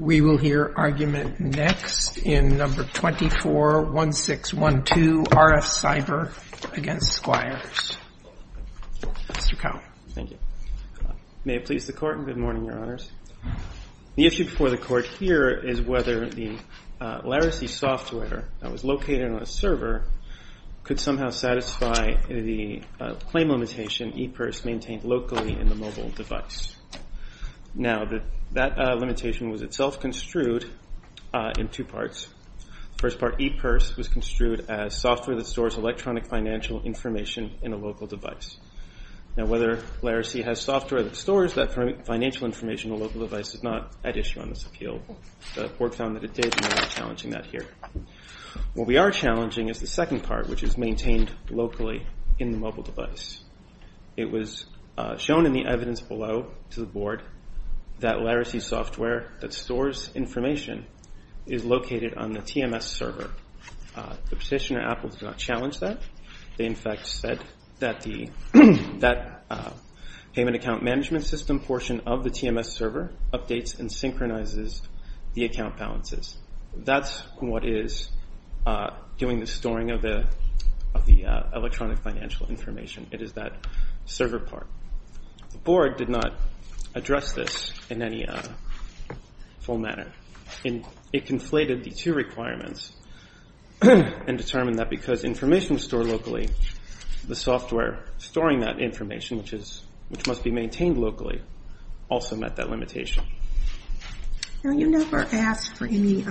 We will hear argument next in No. 241612, RFCyber v. Squires. Mr. Cowell. Thank you. May it please the Court, and good morning, Your Honors. The issue before the Court here is whether the larracy software that was located on a server could somehow satisfy the claim limitation ePIRS maintained locally in the mobile device. Now, that limitation was itself construed in two parts. The first part, ePIRS, was construed as software that stores electronic financial information in a local device. Now, whether larracy has software that stores that financial information in a local device is not at issue on this appeal. The Court found that it did, and we are challenging that here. What we are challenging is the second part, which is maintained locally in the mobile device. It was shown in the evidence below to the Board that larracy software that stores information is located on the TMS server. The petitioner, Apple, did not challenge that. They, in fact, said that the payment account management system portion of the TMS server updates and synchronizes the account balances. That's what is doing the storing of the electronic financial information. It is that server part. The Board did not address this in any full manner. It conflated the two requirements and determined that because information is stored locally, the software storing that information, which must be maintained locally, also met that limitation. Now, you never asked for any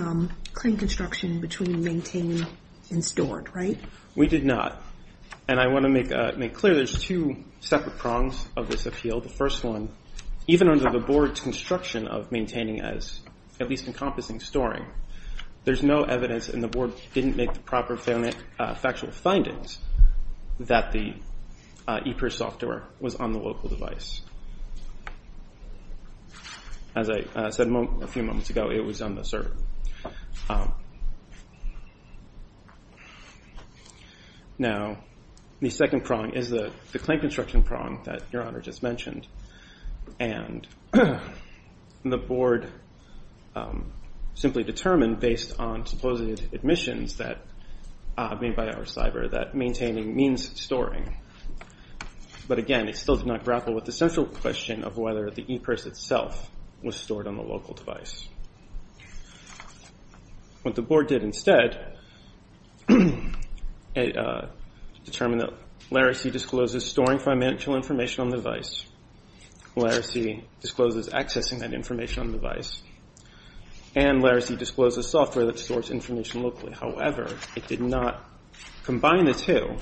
claim construction between maintained and stored, right? We did not, and I want to make clear there's two separate prongs of this appeal. The first one, even under the Board's construction of maintaining as at least encompassing storing, there's no evidence, and the Board didn't make the proper factual findings that the ePIRS software was on the local device. As I said a few moments ago, it was on the server. Now, the second prong is the claim construction prong that Your Honor just mentioned. And the Board simply determined based on supposed admissions made by our cyber that maintaining means storing. But again, it still did not grapple with the central question of whether the ePIRS itself was stored on the local device. What the Board did instead, determined that laracy discloses storing financial information on the device, laracy discloses accessing that information on the device, and laracy discloses software that stores information locally. However, it did not combine the two,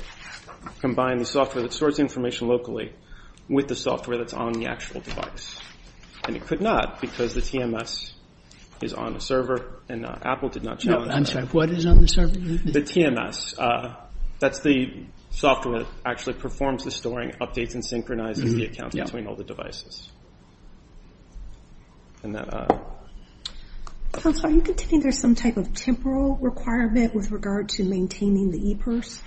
combine the software that stores information locally with the software that's on the actual device. And it could not because the TMS is on the server, and Apple did not challenge that. I'm sorry, what is on the server? The TMS, that's the software that actually performs the storing, updates, and synchronizes the accounts between all the devices. Counsel, are you contending there's some type of temporal requirement with regard to maintaining the ePIRS?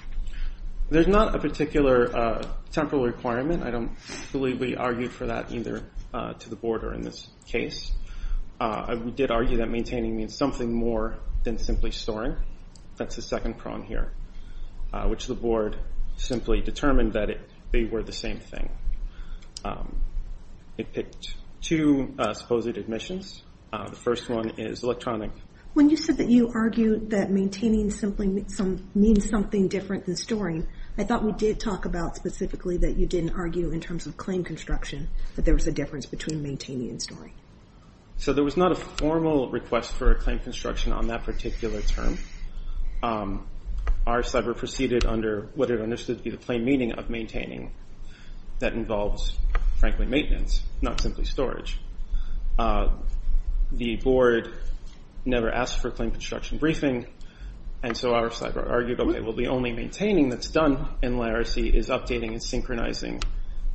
There's not a particular temporal requirement. I don't believe we argued for that either to the Board or in this case. We did argue that maintaining means something more than simply storing. That's the second prong here, which the Board simply determined that they were the same thing. It picked two supposed admissions. The first one is electronic. When you said that you argued that maintaining means something different than storing, I thought we did talk about specifically that you didn't argue in terms of claim construction, that there was a difference between maintaining and storing. So there was not a formal request for a claim construction on that particular term. Our cyber proceeded under what it understood to be the plain meaning of maintaining that involves, frankly, maintenance, not simply storage. The Board never asked for a claim construction briefing, and so our cyber argued, okay, well, the only maintaining that's done in liracy is updating and synchronizing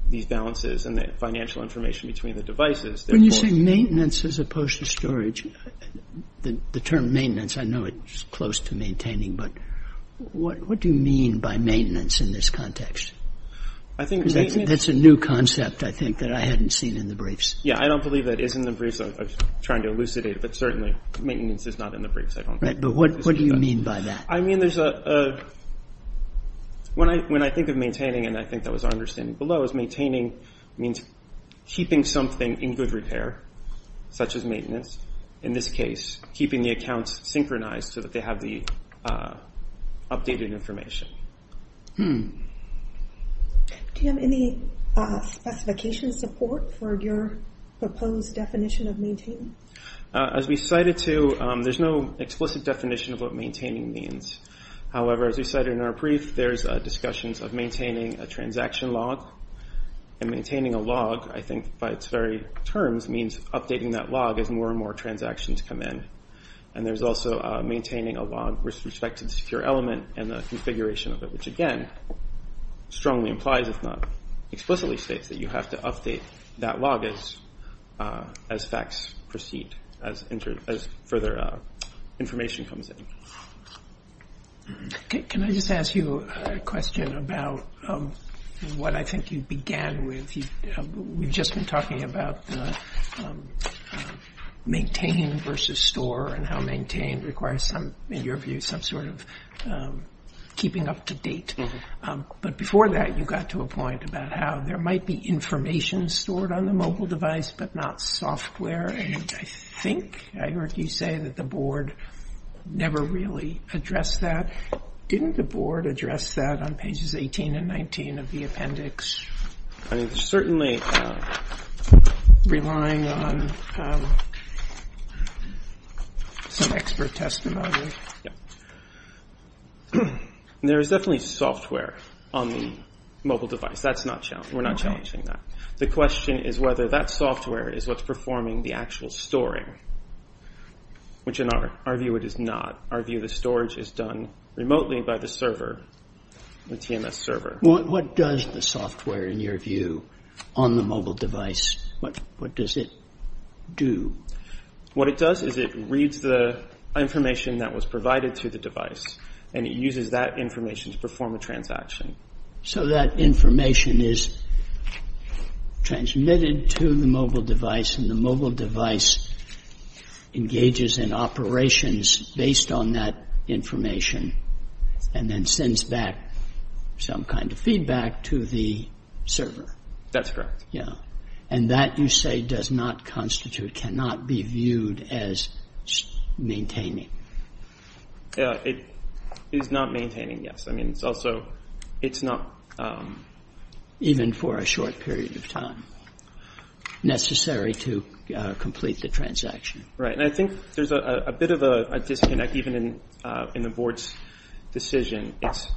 these balances and the financial information between the devices. When you say maintenance as opposed to storage, the term maintenance, I know it's close to maintaining, but what do you mean by maintenance in this context? That's a new concept, I think, that I hadn't seen in the briefs. Yeah, I don't believe that is in the briefs. I was trying to elucidate it, but certainly maintenance is not in the briefs. But what do you mean by that? I mean, when I think of maintaining, and I think that was our understanding below, is maintaining means keeping something in good repair, such as maintenance, in this case, keeping the accounts synchronized so that they have the updated information. Do you have any specification support for your proposed definition of maintaining? As we cited to, there's no explicit definition of what maintaining means. However, as we cited in our brief, there's discussions of maintaining a transaction log, and maintaining a log, I think, by its very terms, means updating that log as more and more transactions come in. And there's also maintaining a log with respect to the secure element and the configuration of it, which again, strongly implies, if not explicitly states, that you have to update that log as facts proceed, as further information comes in. Can I just ask you a question about what I think you began with. We've just been talking about maintaining versus store, and how maintain requires some, in your view, some sort of keeping up to date. But before that, you got to a point about how there might be information stored on the mobile device, but not software. And I think I heard you say that the board never really addressed that. Didn't the board address that on pages 18 and 19 of the appendix? I mean, certainly relying on some expert testimony. There is definitely software on the mobile device. That's not challenging. We're not challenging that. The question is whether that software is what's performing the actual storing, which in our view, it is not. Our view of the storage is done remotely by the server, the TMS server. What does the software, in your view, on the mobile device, what does it do? What it does is it reads the information that was provided to the device, and it uses that information to perform a transaction. So that information is transmitted to the mobile device, and the mobile device engages in operations based on that information, and then sends back some kind of feedback to the server. That's correct. Yeah, and that, you say, does not constitute, cannot be viewed as maintaining. Yeah, it is not maintaining, yes. I mean, it's also, it's not... Even for a short period of time. Necessary to complete the transaction. Right, and I think there's a bit of a disconnect, even in the board's decision. It's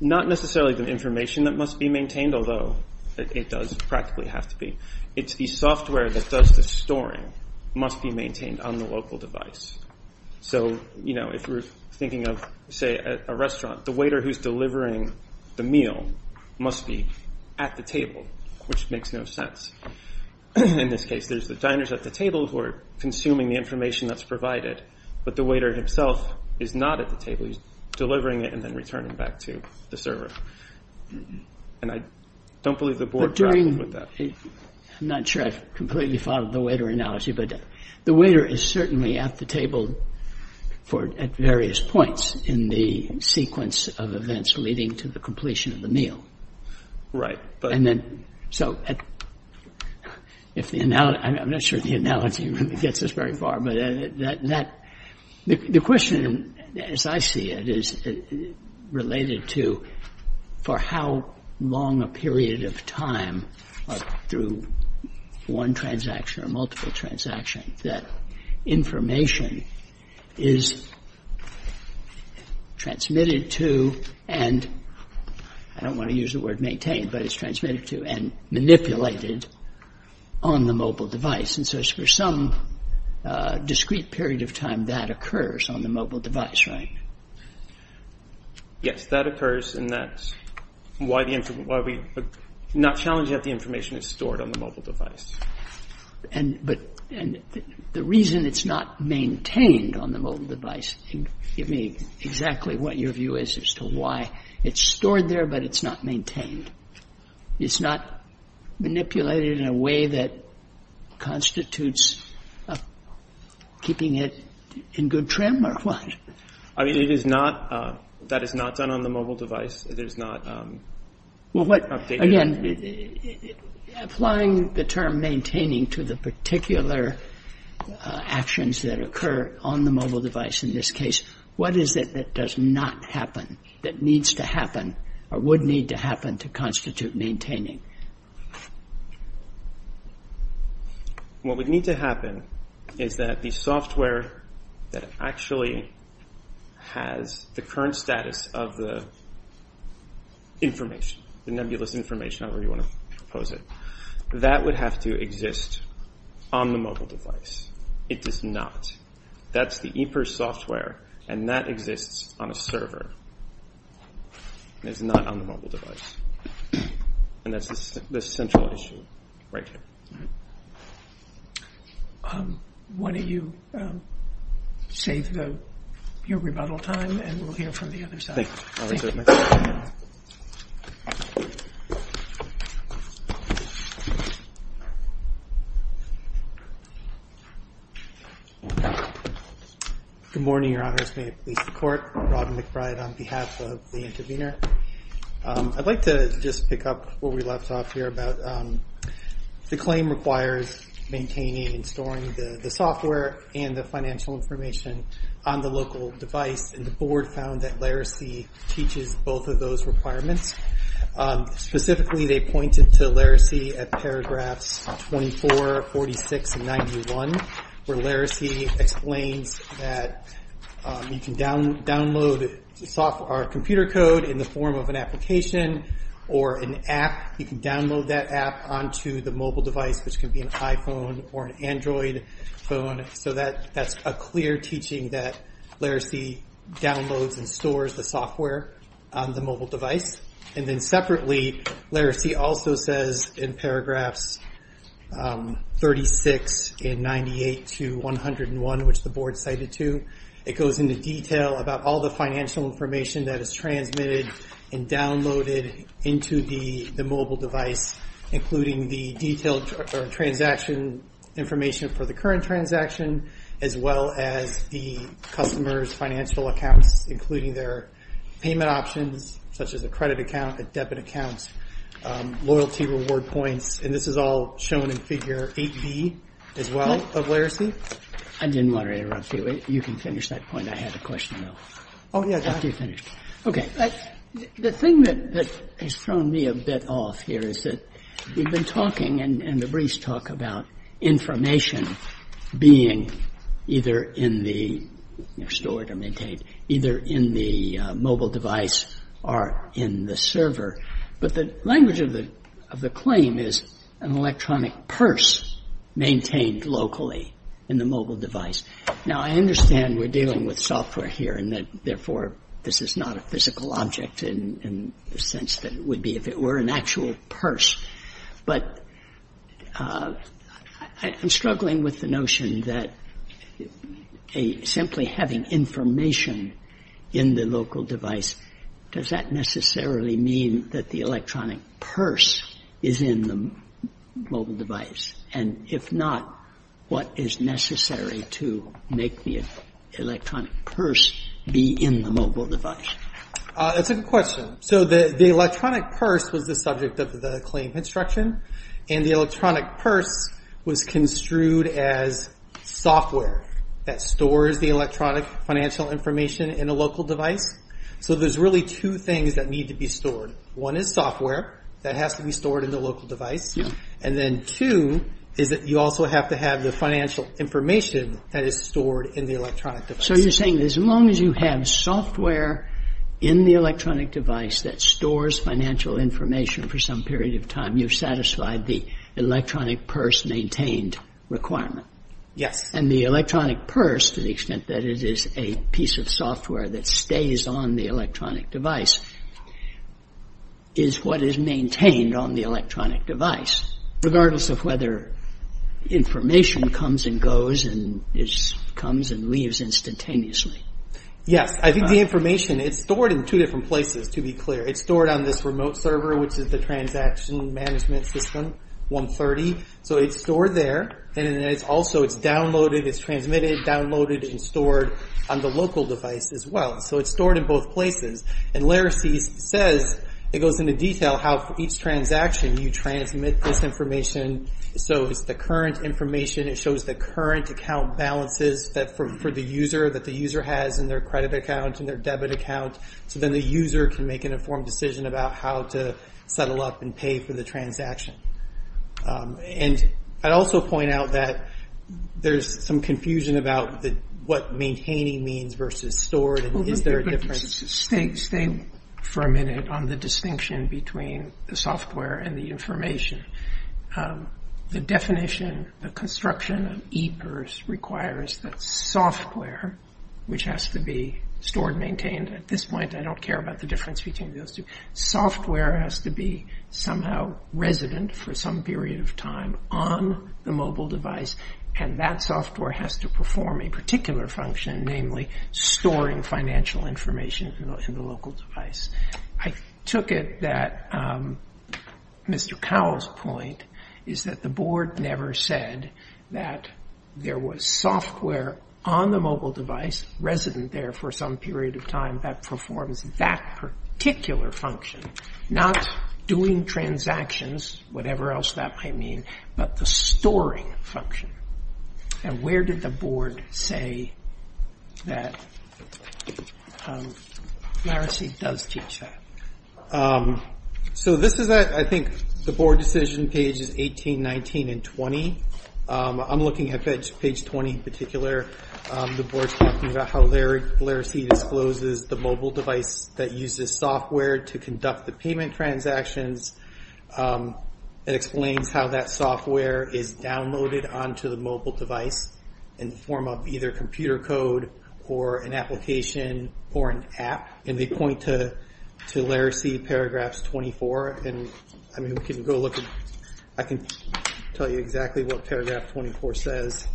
not necessarily the information that must be maintained, although it does practically have to be. It's the software that does the storing must be maintained on the local device. So if we're thinking of, say, a restaurant, the waiter who's delivering the meal must be at the table, which makes no sense. In this case, there's the diners at the table who are consuming the information that's provided, but the waiter himself is not at the table. He's delivering it and then returning back to the server. And I don't believe the board interacted with that. But during, I'm not sure I've completely followed the waiter analogy, but the waiter is certainly at the table at various points in the sequence of events leading to the completion of the meal. Right, but... And then, so, if the, I'm not sure the analogy really gets us very far, but that, the question, as I see it, is related to for how long a period of time, through one transaction or multiple transactions, that information is transmitted to and, I don't want to use the word maintained, but it's transmitted to and manipulated on the mobile device. And so it's for some discrete period of time that occurs on the mobile device, right? Yes, that occurs and that's why the, why we're not challenging that the information is stored on the mobile device. And, but, and the reason it's not maintained on the mobile device, give me exactly what your view is as to why it's stored there, but it's not maintained. It's not manipulated in a way that constitutes keeping it in good trim or what? I mean, it is not, that is not done on the mobile device. It is not updated. Well, what, again, applying the term maintaining to the particular actions that occur on the mobile device in this case, what is it that does not happen, that needs to happen, or would need to happen to constitute maintaining? What would need to happen is that the software that actually has the current status of the information, the nebulous information, however you want to pose it, that would have to exist on the mobile device. It does not. That's the EPRS software and that exists on a server. And it's not on the mobile device. And that's the central issue right here. Why don't you save your rebuttal time and we'll hear from the other side. Thank you. I'll reserve my seat. Good morning, your honors. May it please the court. Robin McBride on behalf of the intervener. I'd like to just pick up where we left off here about the claim requires maintaining and storing the software and the financial information on the local device. And the board found that laracy teaches both of those requirements. Specifically, they pointed to laracy at paragraphs 24, 46, and 91, where laracy explains that you can download software or computer code in the form of an application or an app. You can download that app onto the mobile device, which can be an iPhone or an Android phone. So that's a clear teaching that laracy downloads and stores the software on the mobile device. And then separately, laracy also says, in paragraphs 36 and 98 to 101, which the board cited to, it goes into detail about all the financial information that is transmitted and downloaded into the mobile device, including the detailed transaction information for the current transaction, as well as the customer's financial accounts, including their payment options, such as a credit account, a debit account, loyalty reward points. And this is all shown in figure 8B as well of laracy. I didn't want to interrupt you. You can finish that point. I had a question though. Oh yeah, go ahead. After you finish. Okay, the thing that has thrown me a bit off here is that we've been talking, and the briefs talk about information being either in the, stored or maintained, either in the mobile device or in the server. But the language of the claim is an electronic purse maintained locally in the mobile device. Now I understand we're dealing with software here and that therefore this is not a physical object in the sense that it would be if it were an actual purse. But I'm struggling with the notion that simply having information in the local device, does that necessarily mean that the electronic purse is in the mobile device? And if not, what is necessary to make the electronic purse be in the mobile device? That's a good question. So the electronic purse was the subject of the claim construction. And the electronic purse was construed as software that stores the electronic financial information in a local device. So there's really two things that need to be stored. One is software that has to be stored in the local device. And then two, is that you also have to have the financial information that is stored in the electronic device. So you're saying as long as you have software in the electronic device that stores financial information for some period of time, you've satisfied the electronic purse maintained requirement? Yes. And the electronic purse, to the extent that it is a piece of software that stays on the electronic device, is what is maintained on the electronic device, regardless of whether information comes and goes and comes and leaves instantaneously. Yes, I think the information, it's stored in two different places, to be clear. It's stored on this remote server, which is the transaction management system, 130. So it's stored there, and then it's also, it's downloaded, it's transmitted, downloaded, and stored on the local device as well. So it's stored in both places. And Laracy's says, it goes into detail how for each transaction you transmit this information. So it's the current information, it shows the current account balances for the user, that the user has in their credit account, in their debit account, so then the user can make an informed decision about how to settle up and pay for the transaction. And I'd also point out that there's some confusion about what maintaining means versus stored, and is there a difference? Stay for a minute on the distinction between the software and the information. The definition, the construction of ePERS requires that software, which has to be stored, maintained, at this point I don't care about the difference between those two, software has to be somehow resident for some period of time on the mobile device, and that software has to perform a particular function, namely storing financial information in the local device. I took it that Mr. Cowell's point is that the board never said that there was software on the mobile device, resident there for some period of time that performs that particular function, not doing transactions, whatever else that might mean, but the storing function. And where did the board say that Laracy does teach that? So this is at, I think, the board decision page is 18, 19, and 20. I'm looking at page 20 in particular, the board's talking about how Laracy discloses the mobile device that uses software to conduct the payment transactions. It explains how that software is downloaded onto the mobile device in the form of either computer code or an application or an app, and they point to Laracy, paragraphs 24, and I can tell you exactly what paragraph 24 says.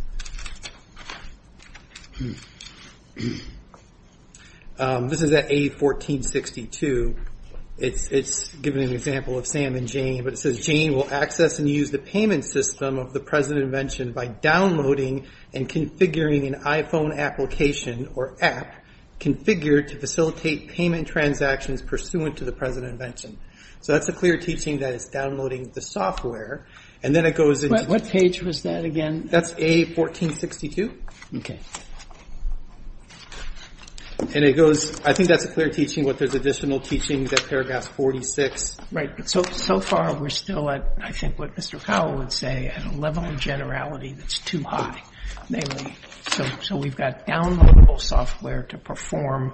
This is at A1462, it's giving an example of Sam and Jane, but it says, Jane will access and use the payment system of the present invention by downloading and configuring an iPhone application or app configured to facilitate payment transactions pursuant to the present invention. So that's a clear teaching that is downloading the software, and then it goes into- What page was that again? That's A1462. Okay. And it goes, I think that's a clear teaching what there's additional teachings at paragraph 46. Right, but so far we're still at, I think what Mr. Powell would say, at a level of generality that's too high. Namely, so we've got downloadable software to perform,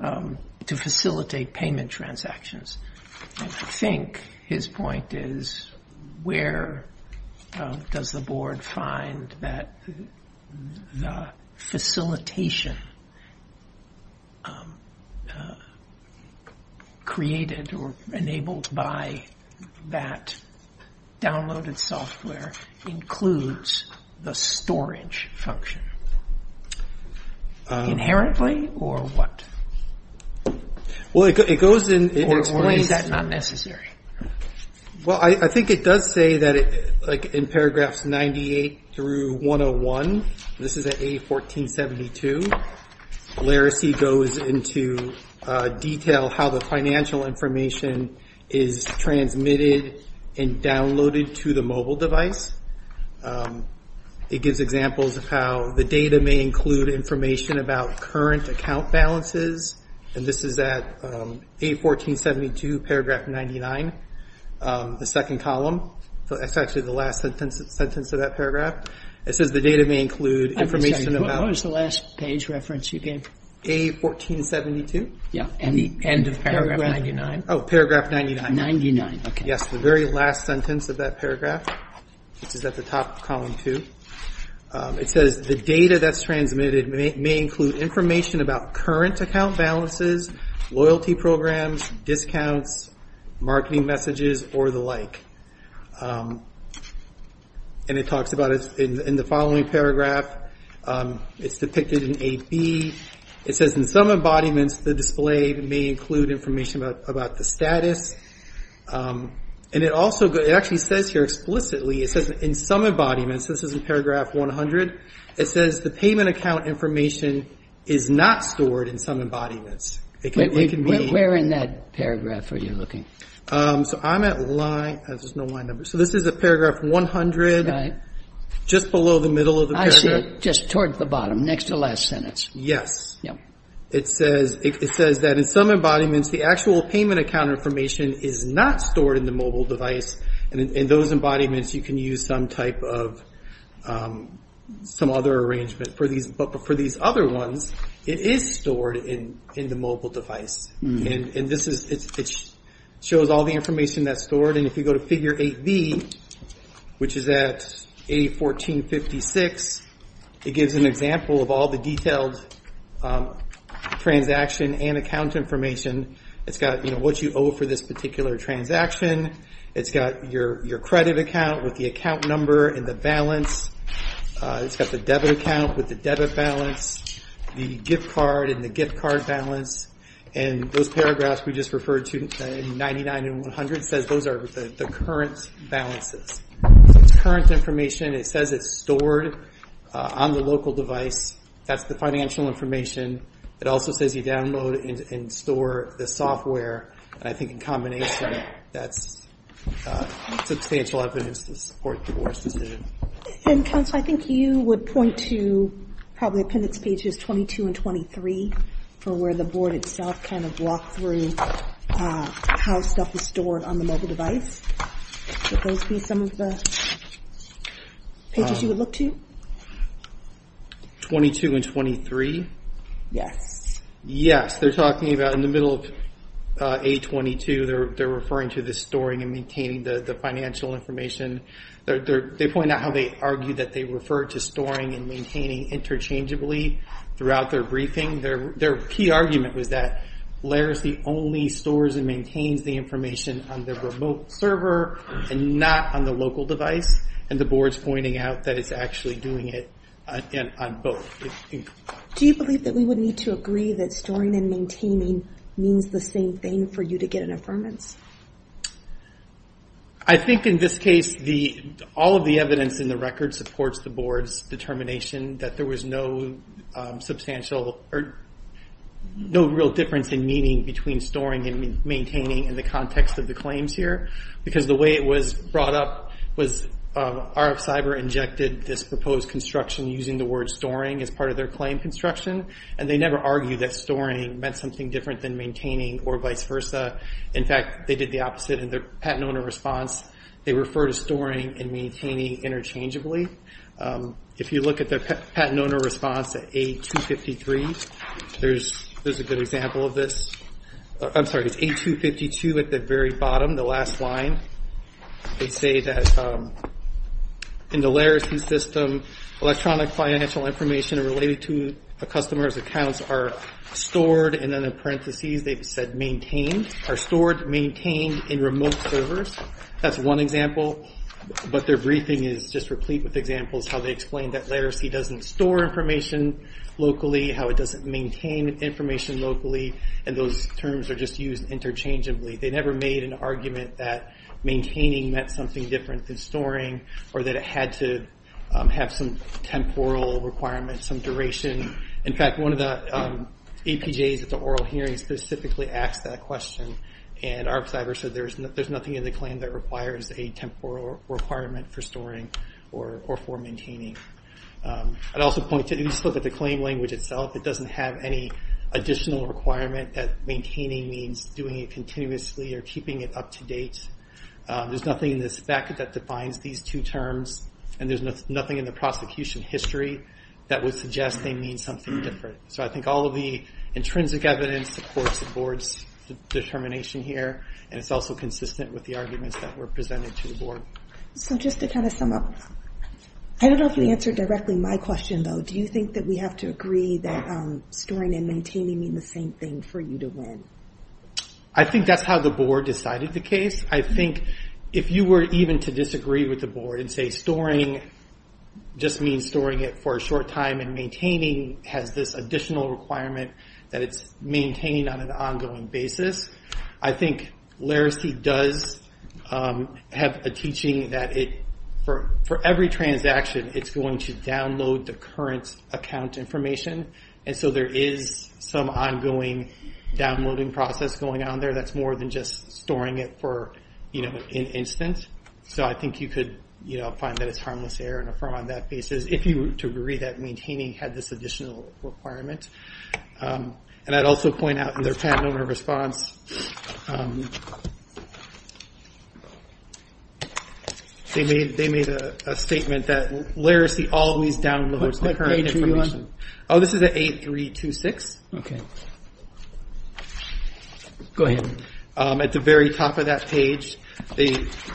to facilitate payment transactions. And I think his point is, where does the board find that the facilitation created or enabled by that downloaded software includes the storage function? Inherently, or what? Well, it goes in, it explains- Or is that not necessary? Well, I think it does say that in paragraphs 98 through 101, this is at A1472, Laracy goes into detail how the financial information is transmitted and downloaded to the mobile device. It gives examples of how the data may include information about current account balances. And this is at A1472, paragraph 99, the second column. So that's actually the last sentence of that paragraph. It says the data may include information about- I'm sorry, what was the last page reference you gave? A1472? Yeah, and the end of paragraph 99. Oh, paragraph 99. 99, okay. Yes, the very last sentence of that paragraph, which is at the top of column two. It says the data that's transmitted may include information about current account balances, loyalty programs, discounts, marketing messages, or the like. And it talks about, in the following paragraph, it's depicted in A, B. It says in some embodiments, the display may include information about the status. And it also, it actually says here explicitly, it says in some embodiments, this is in paragraph 100, it says the payment account information is not stored in some embodiments. It can be- Wait, where in that paragraph are you looking? So I'm at line, there's no line number. So this is at paragraph 100, just below the middle of the paragraph. I see it, just towards the bottom, next to the last sentence. Yes. It says that in some embodiments, the actual payment account information is not stored in the mobile device. And in those embodiments, you can use some other arrangement. But for these other ones, it is stored in the mobile device. And it shows all the information that's stored. And if you go to figure eight B, which is at A1456, it gives an example of all the detailed transaction and account information. It's got what you owe for this particular transaction. It's got your credit account with the account number and the balance. It's got the debit account with the debit balance, the gift card and the gift card balance. And those paragraphs we just referred to in 99 and 100 says those are the current balances. It's current information. It says it's stored on the local device. That's the financial information. It also says you download and store the software. And I think in combination, that's substantial evidence to support the board's decision. And counsel, I think you would point to probably appendix pages 22 and 23 for where the board itself kind of walked through how stuff is stored on the mobile device. Would those be some of the pages you would look to? 22 and 23? Yes. Yes, they're talking about in the middle of A22, they're referring to the storing and maintaining the financial information. They point out how they argue that they refer to storing and maintaining interchangeably throughout their briefing. Their key argument was that LARISC only stores and maintains the information on the remote server and not on the local device. And the board's pointing out that it's actually doing it on both. Do you believe that we would need to agree that storing and maintaining means the same thing for you to get an affirmance? I think in this case, all of the evidence in the record supports the board's determination that there was no substantial or no real difference in meaning between storing and maintaining in the context of the claims here because the way it was brought up was RF Cyber injected this proposed construction using the word storing as part of their claim construction. And they never argued that storing meant something different than maintaining or vice versa. In fact, they did the opposite in their patent owner response. They refer to storing and maintaining interchangeably. If you look at the patent owner response at A253, there's a good example of this. I'm sorry, it's A252 at the very bottom, the last line. They say that in the LARISC system, electronic financial information related to a customer's accounts are stored and then in parentheses, they've said maintained, are stored, maintained in remote servers. That's one example, but their briefing is just replete with examples how they explain that LARISC doesn't store information locally, how it doesn't maintain information locally, and those terms are just used interchangeably. They never made an argument that maintaining meant something different than storing or that it had to have some temporal requirements, some duration. In fact, one of the APJs at the oral hearing specifically asked that question, and RF Cyber said there's nothing in the claim that requires a temporal requirement for storing or for maintaining. I'd also point to, if you just look at the claim language itself, it doesn't have any additional requirement that maintaining means doing it continuously or keeping it up to date. There's nothing in this fact that defines these two terms, and there's nothing in the prosecution history that would suggest they mean something different. So I think all of the intrinsic evidence supports the board's determination here, and it's also consistent with the arguments that were presented to the board. So just to kind of sum up, I don't know if you answered directly my question, though. Do you think that we have to agree that storing and maintaining mean the same thing for you to win? I think that's how the board decided the case. I think if you were even to disagree with the board and say storing just means storing it for a short time and maintaining has this additional requirement that it's maintained on an ongoing basis, I think Laracy does have a teaching that for every transaction, it's going to download the current account information, and so there is some ongoing downloading process going on there that's more than just storing it for an instant. So I think you could find that it's harmless error and affirm on that basis, if you were to agree that maintaining had this additional requirement. And I'd also point out in their patent owner response, they made a statement that Laracy always downloads the current information. Oh, this is at 8326. Okay. Go ahead. At the very top of that page, they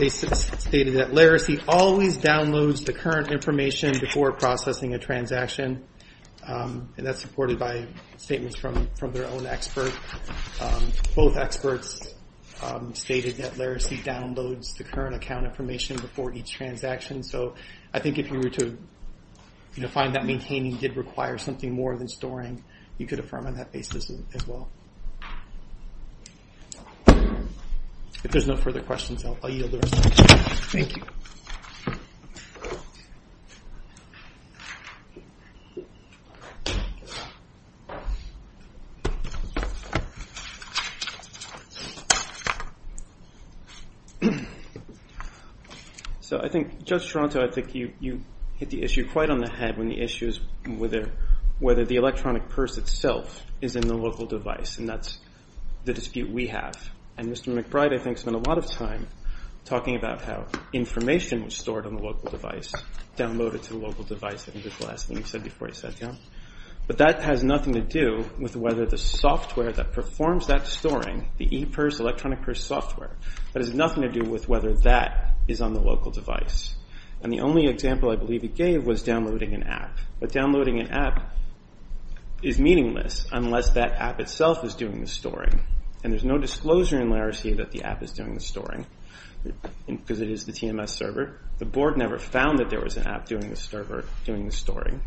stated that Laracy always downloads the current information before processing a transaction, and that's supported by statements from their own expert. Both experts stated that Laracy downloads the current account information before each transaction, so I think if you were to find that maintaining did require something more than storing, you could affirm on that basis as well. If there's no further questions, I'll yield the rest. Thank you. So I think, Judge Toronto, I think you hit the issue quite on the head when the issue is whether the electronic purse itself is in the local device, and that's the dispute we have. And Mr. McBride, I think, spent a lot of time talking about how information was stored on the local device, downloaded to the local device, I think that's the last thing you said before you sat down. But that has nothing to do with whether the software that performs that storing, the ePurse electronic purse software, that has nothing to do with whether that is on the local device. And the only example I believe he gave was downloading an app. But downloading an app is meaningless unless that app itself is doing the storing. And there's no disclosure in Laracy that the app is doing the storing, because it is the TMS server. The board never found that there was an app doing the storing.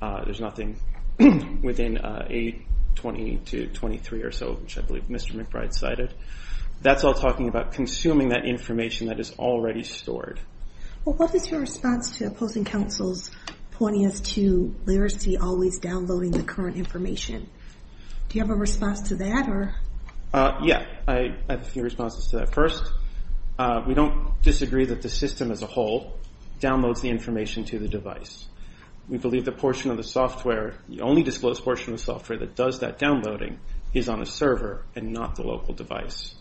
There's nothing within 820 to 823 or so, which I believe Mr. McBride cited. That's all talking about consuming that information that is already stored. Well, what is your response to opposing counsels pointing us to Laracy always downloading the current information? Do you have a response to that, or? Yeah, I have a few responses to that. First, we don't disagree that the system as a whole downloads the information to the device. We believe the portion of the software, the only disclosed portion of the software that does that downloading is on a server and not the local device.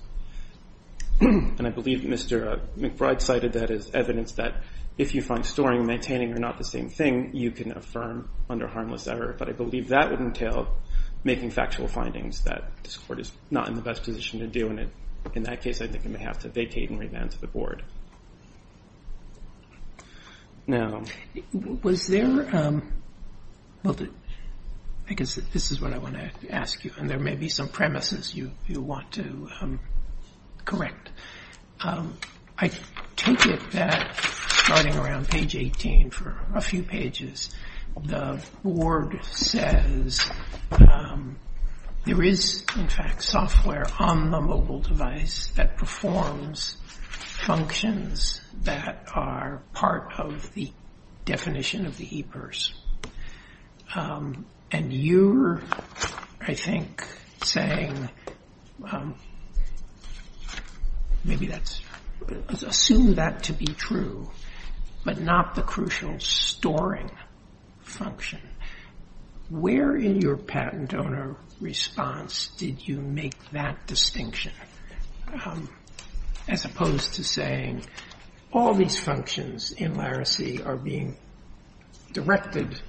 And I believe Mr. McBride cited that as evidence that if you find storing and maintaining are not the same thing, you can affirm under harmless error. But I believe that would entail making factual findings that this court is not in the best position to do. And in that case, I think it may have to vacate and revamp the board. Now, was there, I guess this is what I want to ask you, and there may be some premises you want to correct. I take it that starting around page 18 for a few pages, the board says there is, in fact, software on the mobile device that performs functions that are part of the definition of the e-purse. And you're, I think, saying, maybe that's, assume that to be true, but not the crucial storing function. Where in your patent owner response did you make that distinction? As opposed to saying, all these functions in Laracy are being directed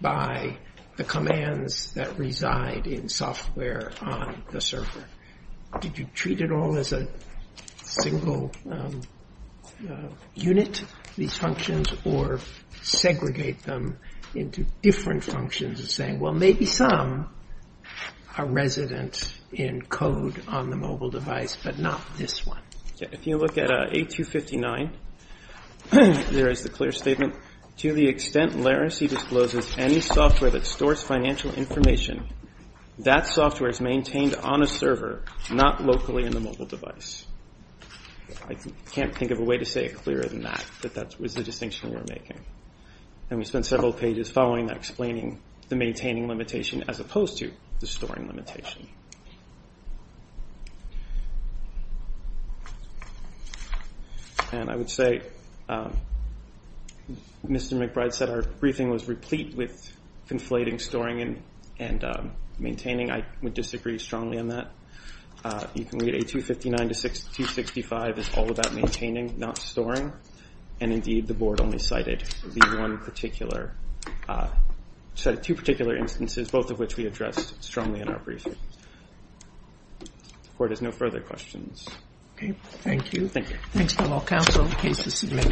by the commands that reside in software on the server. Did you treat it all as a single unit, these functions, or segregate them into different functions and saying, well, maybe some are resident in code on the mobile device, but not this one. If you look at A259, there is the clear statement, to the extent Laracy discloses any software that stores financial information, that software is maintained on a server, not locally in the mobile device. I can't think of a way to say it clearer than that, that that was the distinction we were making. And we spent several pages following that, explaining the maintaining limitation as opposed to the storing limitation. And I would say, Mr. McBride said our briefing was replete with conflating, storing, and maintaining. I would disagree strongly on that. You can read A259 to 265, it's all about maintaining, not storing. And indeed, the board only cited the one particular, cited two particular instances, both of which we addressed strongly in our briefing. Board has no further questions. Okay, thank you. Thank you. Thanks to all counsel, cases submitted.